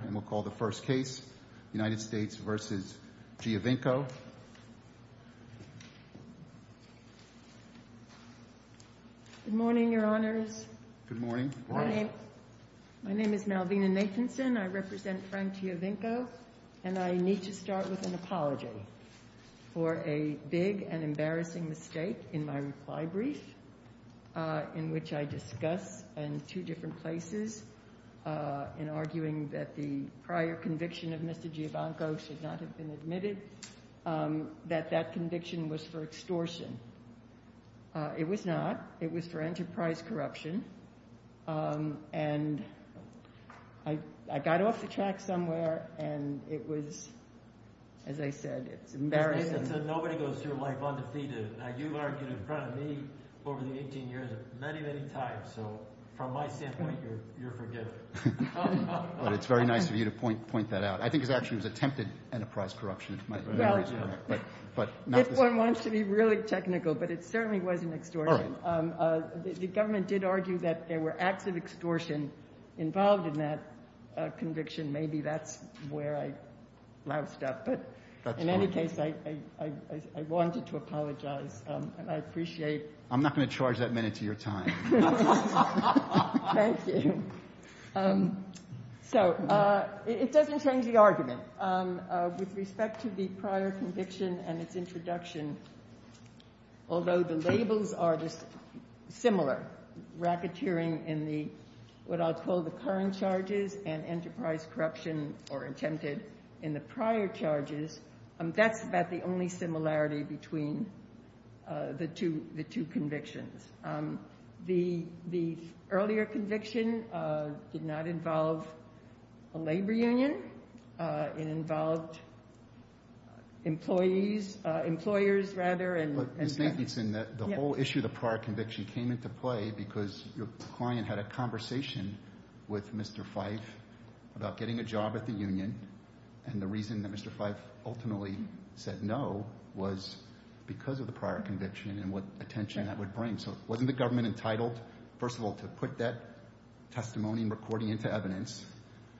Good morning, Your Honors. My name is Malvina Nathanson. I represent Frank Giovinco, and I need to start with an apology for a big and embarrassing mistake in my reply brief in which I discuss, in two different places, in arguing that the prior conviction of Mr. Giovinco should not have been admitted, that that conviction was for extortion. It was not. It was for enterprise corruption, and I got off the track somewhere, and it was, as I said, it's embarrassing. Nobody goes through life undefeated. Now, you've argued in front of me over the 18 years many, many times, so from my standpoint, you're forgiven. But it's very nice of you to point that out. I think it actually was attempted enterprise corruption, if my memory is correct. Well, this one wants to be really technical, but it certainly wasn't extortion. All right. The government did argue that there were acts of extortion involved in that conviction. Maybe that's where I loused up, but in any case, I wanted to apologize, and I appreciate I'm not going to charge that minute to your time. Thank you. So it doesn't change the argument. With respect to the prior conviction and its introduction, although the labels are just similar, racketeering in the, what I'll call the current charges, and enterprise corruption or attempted in the prior charges, that's about the only similarity between the two convictions. The earlier conviction did not involve a labor union. It involved employees, employers, rather, and judges. Ms. Jensen, the whole issue of the prior conviction came into play because your client had a conversation with Mr. Fyfe about getting a job at the union, and the reason that Mr. Fyfe ultimately said no was because of the prior conviction and what attention that would bring. So wasn't the government entitled, first of all, to put that testimony and recording into evidence?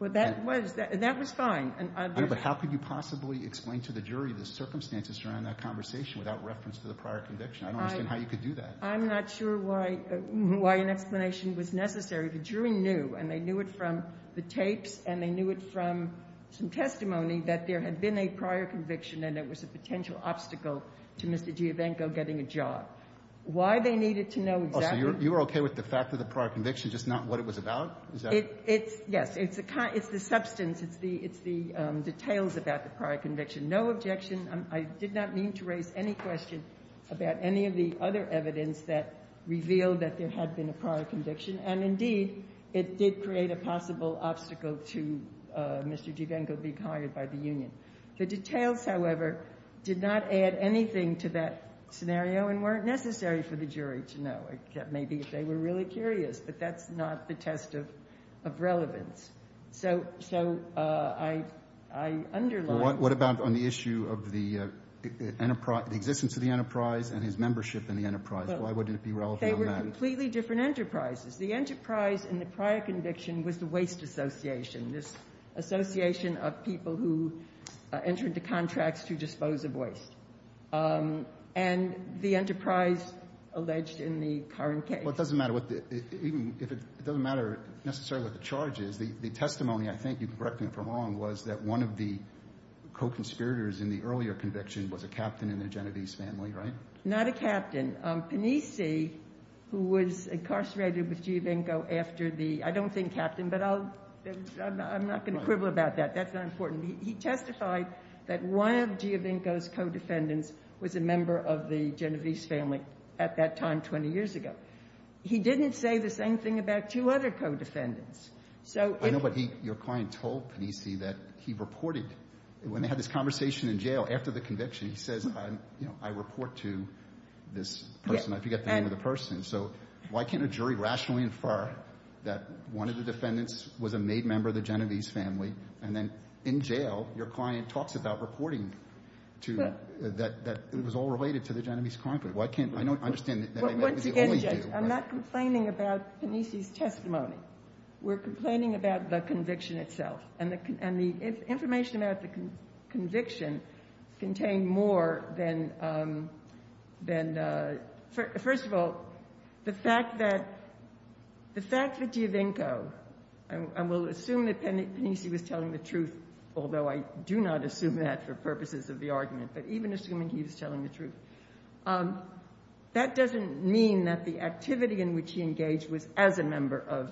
Well, that was fine. But how could you possibly explain to the jury the circumstances surrounding that conversation without reference to the prior conviction? I don't understand how you could do that. I'm not sure why an explanation was necessary. The jury knew, and they knew it from the tapes, and they knew it from some testimony, that there had been a prior conviction and it was a potential obstacle to Mr. Giovanco getting a job. Why they needed to know exactly was the fact of the prior conviction, just not what it was about? Yes. It's the substance. It's the details about the prior conviction. No objection. I did not mean to raise any question about any of the other evidence that revealed that there had been a prior conviction, and, indeed, it did create a possible obstacle to Mr. Giovanco being hired by the union. The details, however, did not add anything to that scenario and weren't necessary for the jury to know. That may be if they were really curious, but that's not the test of relevance. So I underline that. What about on the issue of the enterprise, the existence of the enterprise and his membership in the enterprise? Why wouldn't it be relevant on that? They were completely different enterprises. The enterprise in the prior conviction was the Waste Association, this association of people who entered the contracts to dispose of waste. And the enterprise alleged in the current case. Well, it doesn't matter what the – even if it doesn't matter necessarily what the charge is. The testimony, I think you can correct me if I'm wrong, was that one of the co-conspirators in the earlier conviction was a captain in the Genovese family, right? Not a captain. Panisi, who was incarcerated with Giovanco after the – I don't think captain, but I'll – I'm not going to quibble about that. That's not important. He testified that one of Giovanco's co-defendants was a member of the Genovese family at that time 20 years ago. He didn't say the same thing about two other co-defendants. So if – I know, but he – your client told Panisi that he reported – when they had this conversation in jail after the conviction, he says, you know, I report to this person. I forget the name of the person. So why can't a jury rationally infer that one of the defendants was a made member of the Genovese family, and then in jail your client talks about reporting to – that it was all related to the Genovese crime. Why can't – I don't understand that that was the only view. Once again, Judge, I'm not complaining about Panisi's testimony. We're complaining about the conviction itself. And the information about the conviction contained more than – first of all, the fact that Giovanco – and we'll assume that Panisi was telling the truth, although I do not assume that for purposes of the argument, but even assuming he was telling the truth – that doesn't mean that the activity in which he engaged was as a member of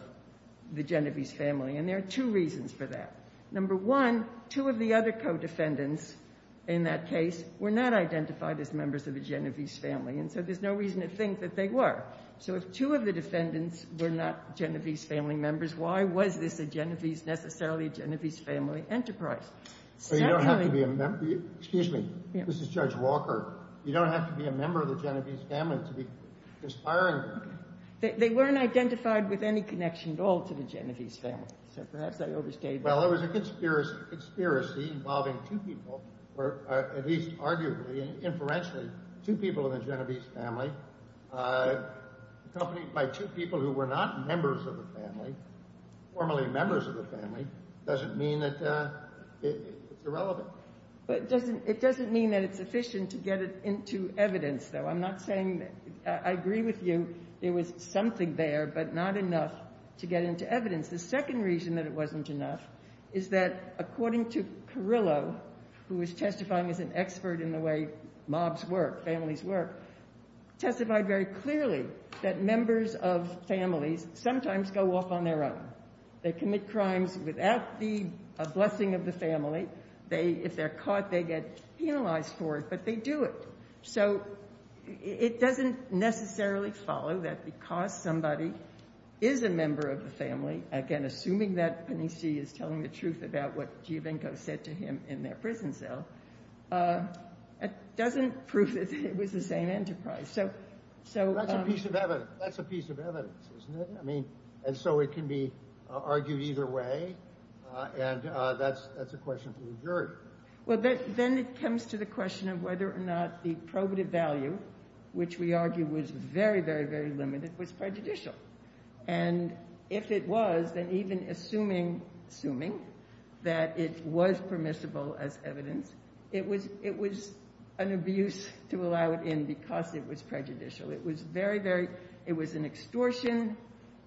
the Genovese family. And there are two reasons for that. Number one, two of the other co-defendants in that case were not identified as members of the Genovese family, and so there's no reason to think that they were. So if two of the defendants were not Genovese family members, why was this a Genovese – necessarily a Genovese family enterprise? So you don't have to be a – excuse me. This is Judge Walker. You don't have to be a member of the Genovese family to be conspiring. They weren't identified with any connection at all to the Genovese family, so perhaps I overstated that. Well, there was a conspiracy involving two people, or at least arguably and inferentially, two people in the Genovese family, accompanied by two people who were not members of the family, formerly members of the family. It doesn't mean that it's irrelevant. But it doesn't mean that it's sufficient to get it into evidence, though. I'm not saying – I agree with you. There was something there, but not enough to get into evidence. The second reason that it wasn't enough is that, according to Carrillo, who was testifying as an expert in the way mobs work, families work, testified very clearly that members of families sometimes go off on their own. They commit crimes without the blessing of the family. If they're caught, they get penalized for it, but they do it. So it doesn't necessarily follow that because somebody is a member of the family, again, assuming that Panisci is telling the truth about what Giovinco said to him in their prison cell, it doesn't prove that it was the same enterprise. That's a piece of evidence. That's a piece of evidence, isn't it? And so it can be argued either way, and that's a question for the jury. Well, then it comes to the question of whether or not the probative value, which we argue was very, very, very limited, was prejudicial. And if it was, then even assuming that it was permissible as evidence, it was an abuse to allow it in because it was prejudicial. It was very, very – it was an extortion.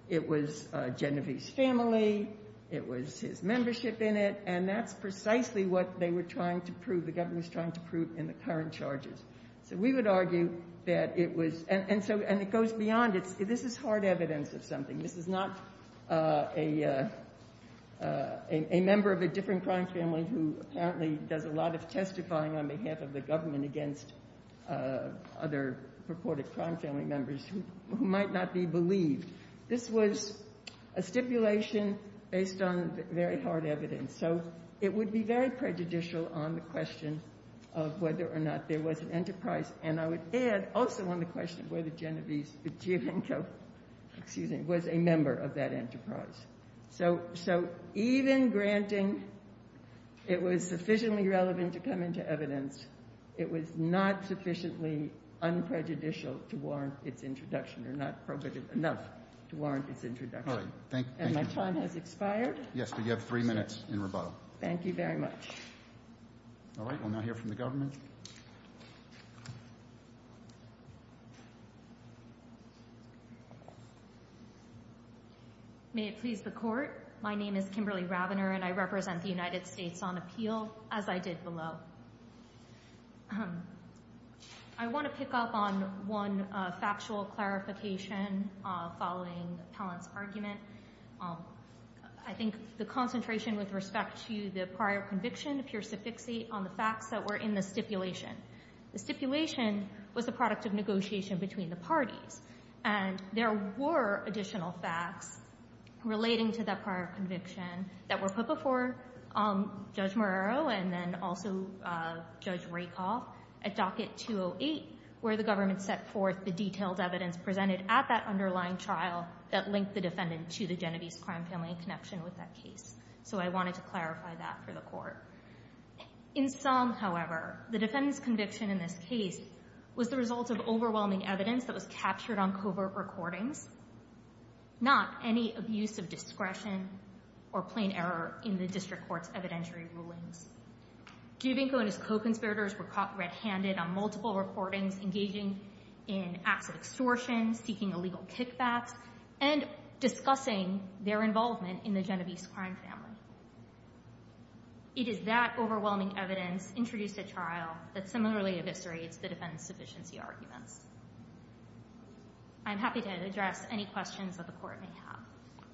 It was Genevieve's family. It was his membership in it. And that's precisely what they were trying to prove, the government was trying to prove in the current charges. So we would argue that it was – and so – and it goes beyond. This is hard evidence of something. This is not a member of a different crime family who apparently does a lot of testifying on behalf of the government against other purported crime family members who might not be believed. This was a stipulation based on very hard evidence. So it would be very prejudicial on the question of whether or not there was an enterprise. And I would add also on the question of whether Genevieve was a member of that enterprise. So even granting it was sufficiently relevant to come into evidence, it was not sufficiently unprejudicial to warrant its introduction or not probative enough to warrant its introduction. And my time has expired. Yes, but you have three minutes in rebuttal. Thank you very much. All right, we'll now hear from the government. May it please the Court. My name is Kimberly Rabiner, and I represent the United States on appeal, as I did below. I want to pick up on one factual clarification following Pallant's argument. I think the concentration with respect to the prior conviction appears to fixate on the facts that were in the stipulation. The stipulation was the product of negotiation between the parties, and there were additional facts relating to that prior conviction that were put before Judge Marrero and then also Judge Rakoff at Docket 208 where the government set forth the detailed evidence presented at that underlying trial that linked the defendant to the Genovese crime family in connection with that case. So I wanted to clarify that for the Court. In sum, however, the defendant's conviction in this case was the result of overwhelming evidence that was captured on covert recordings, not any abuse of discretion or plain error in the district court's evidentiary rulings. Giobinco and his co-conspirators were caught red-handed on multiple recordings engaging in acts of extortion, seeking illegal kickbacks, and discussing their involvement in the Genovese crime family. It is that overwhelming evidence introduced at trial that similarly eviscerates the defendant's sufficiency arguments. I'm happy to address any questions that the Court may have.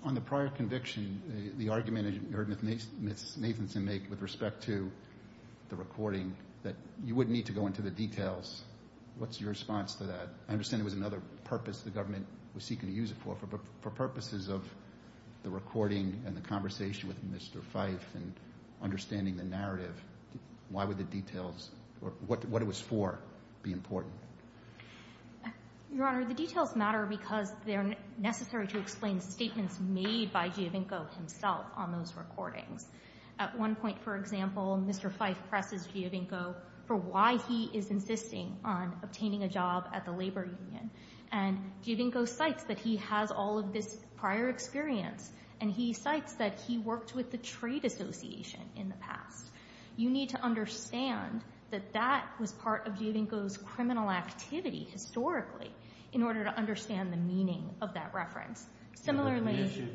On the prior conviction, the argument that you heard Ms. Nathanson make with respect to the recording that you wouldn't need to go into the details, what's your response to that? I understand it was another purpose the government was seeking to use it for, but for purposes of the recording and the conversation with Mr. Fyffe and understanding the narrative, why would the details or what it was for be important? Your Honor, the details matter because they're necessary to explain statements made by Giobinco himself on those recordings. At one point, for example, Mr. Fyffe presses Giobinco for why he is insisting on obtaining a job at the labor union, and Giobinco cites that he has all of this prior experience, and he cites that he worked with the trade association in the past. You need to understand that that was part of Giobinco's criminal activity historically in order to understand the meaning of that reference. The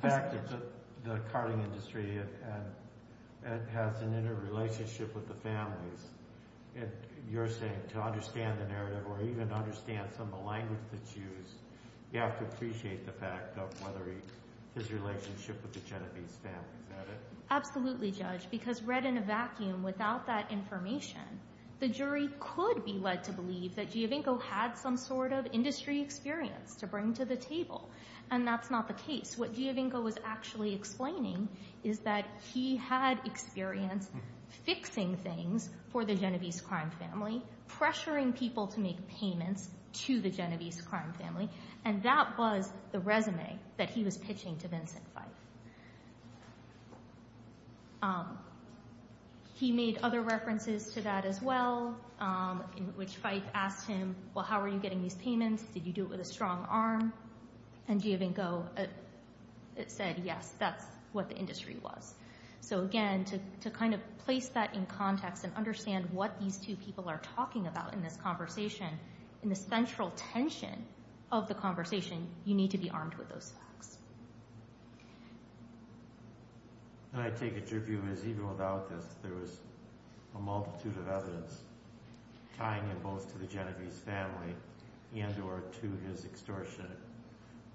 fact that the carting industry has an interrelationship with the families, you're saying to understand the narrative or even understand some of the language that's used, you have to appreciate the fact of whether his relationship with the Genovese family. Is that it? Absolutely, Judge, because read in a vacuum without that information, the jury could be led to believe that Giobinco had some sort of industry experience to bring to the table, and that's not the case. What Giobinco was actually explaining is that he had experience fixing things for the Genovese crime family, pressuring people to make payments to the Genovese crime family, and that was the resume that he was pitching to Vincent Fyffe. He made other references to that as well, in which Fyffe asked him, well, how are you getting these payments? Did you do it with a strong arm? And Giobinco said, yes, that's what the industry was. So again, to kind of place that in context and understand what these two people are talking about in this conversation, in the central tension of the conversation, you need to be armed with those facts. And I take it your view is even without this, there was a multitude of evidence tying him both to the Genovese family and or to his extortion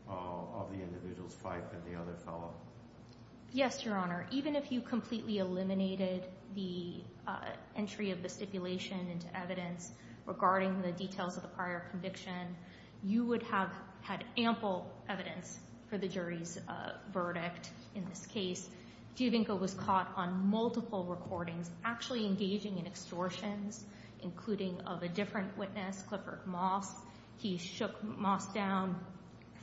of the individuals, Fyffe and the other fellow. Yes, Your Honor. Even if you completely eliminated the entry of the stipulation into evidence regarding the details of the prior conviction, you would have had ample evidence for the jury's verdict in this case. Giobinco was caught on multiple recordings actually engaging in extortions, including of a different witness, Clifford Moss. He shook Moss down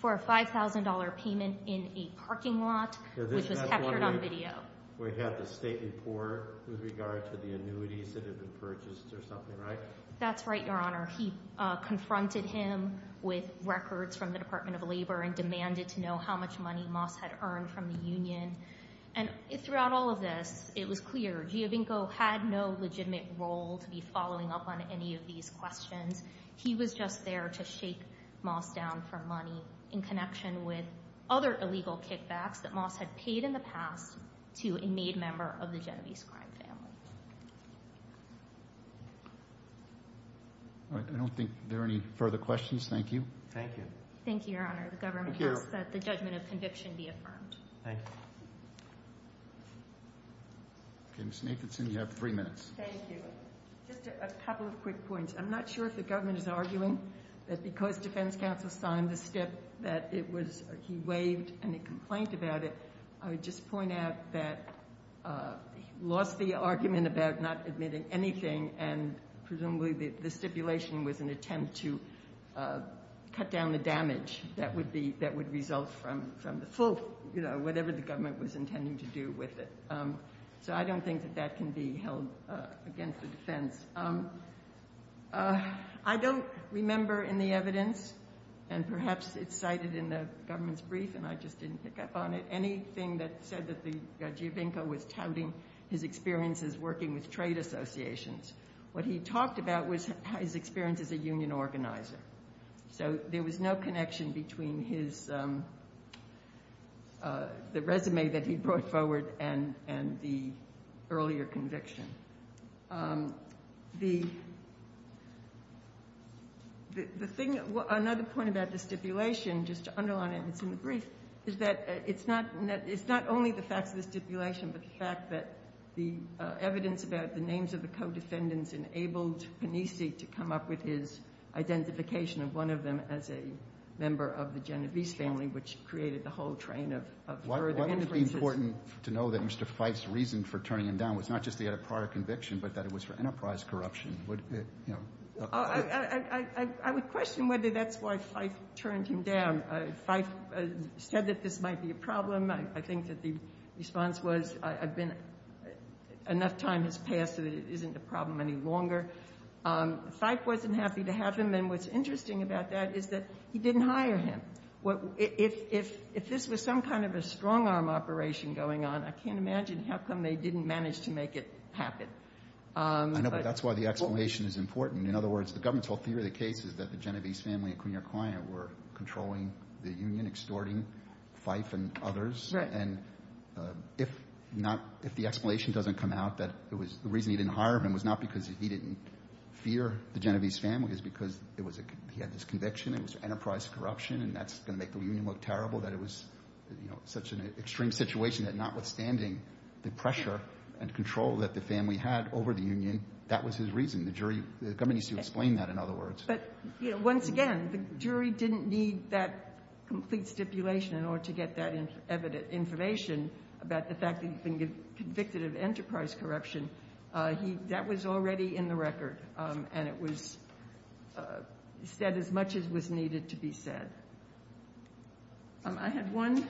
for a $5,000 payment in a parking lot, which was captured on video. That's right, Your Honor. He confronted him with records from the Department of Labor and demanded to know how much money Moss had earned from the union. And throughout all of this, it was clear Giobinco had no legitimate role to be following up on any of these questions. He was just there to shake Moss down for money in connection with other illegal kickbacks that Moss had paid in the past to a made member of the Genovese crime family. All right. I don't think there are any further questions. Thank you. Thank you. Thank you, Your Honor. The government asks that the judgment of conviction be affirmed. Thank you. Ms. Nathanson, you have three minutes. Thank you. Just a couple of quick points. I'm not sure if the government is arguing that because defense counsel signed the stip that he waived any complaint about it. I would just point out that he lost the argument about not admitting anything and presumably the stipulation was an attempt to cut down the damage that would result from the full, you know, whatever the government was intending to do with it. So I don't think that that can be held against the defense. I don't remember in the evidence, and perhaps it's cited in the government's brief and I just didn't pick up on it, anything that said that Giobinco was touting his experiences working with trade associations. What he talked about was his experience as a union organizer. So there was no connection between the resume that he brought forward and the earlier conviction. Another point about the stipulation, just to underline it, and it's in the brief, is that it's not only the facts of the stipulation but the fact that the evidence about the names of the co-defendants enabled Panisi to come up with his identification of one of them as a member of the Genovese family, which created the whole train of further inferences. Why would it be important to know that Mr. Fife's reason for turning him down was not just that he had a prior conviction but that it was for enterprise corruption? I would question whether that's why Fife turned him down. Fife said that this might be a problem. I think that the response was enough time has passed so that it isn't a problem any longer. Fife wasn't happy to have him, and what's interesting about that is that he didn't hire him. If this was some kind of a strong-arm operation going on, I can't imagine how come they didn't manage to make it happen. I know, but that's why the explanation is important. In other words, the government's whole theory of the case is that the Genovese family and the Cunha client were controlling the union, extorting Fife and others. Right. And if not, if the explanation doesn't come out that it was the reason he didn't hire him was not because he didn't fear the Genovese family. It was because he had this conviction. It was enterprise corruption, and that's going to make the union look terrible, that it was, you know, such an extreme situation that notwithstanding the pressure and control that the family had over the union, that was his reason. The jury, the government needs to explain that, in other words. But, you know, once again, the jury didn't need that complete stipulation in order to get that information about the fact that he'd been convicted of enterprise corruption. That was already in the record, and it was said as much as was needed to be said. I had one.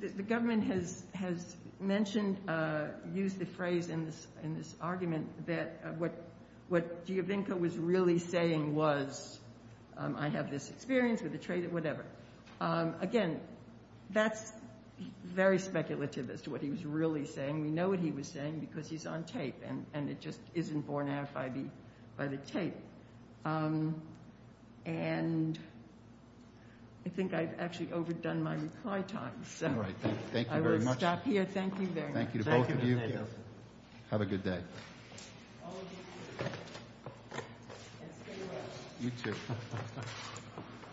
The government has mentioned, used the phrase in this argument, that what Giovinco was really saying was, I have this experience with the trade, whatever. Again, that's very speculative as to what he was really saying. We know what he was saying because he's on tape, and it just isn't borne out by the tape. And I think I've actually overdone my reply time. All right. Thank you very much. I will stop here. Thank you very much. Thank you to both of you. Thank you. Have a good day. All of you, too. And stay well. You, too.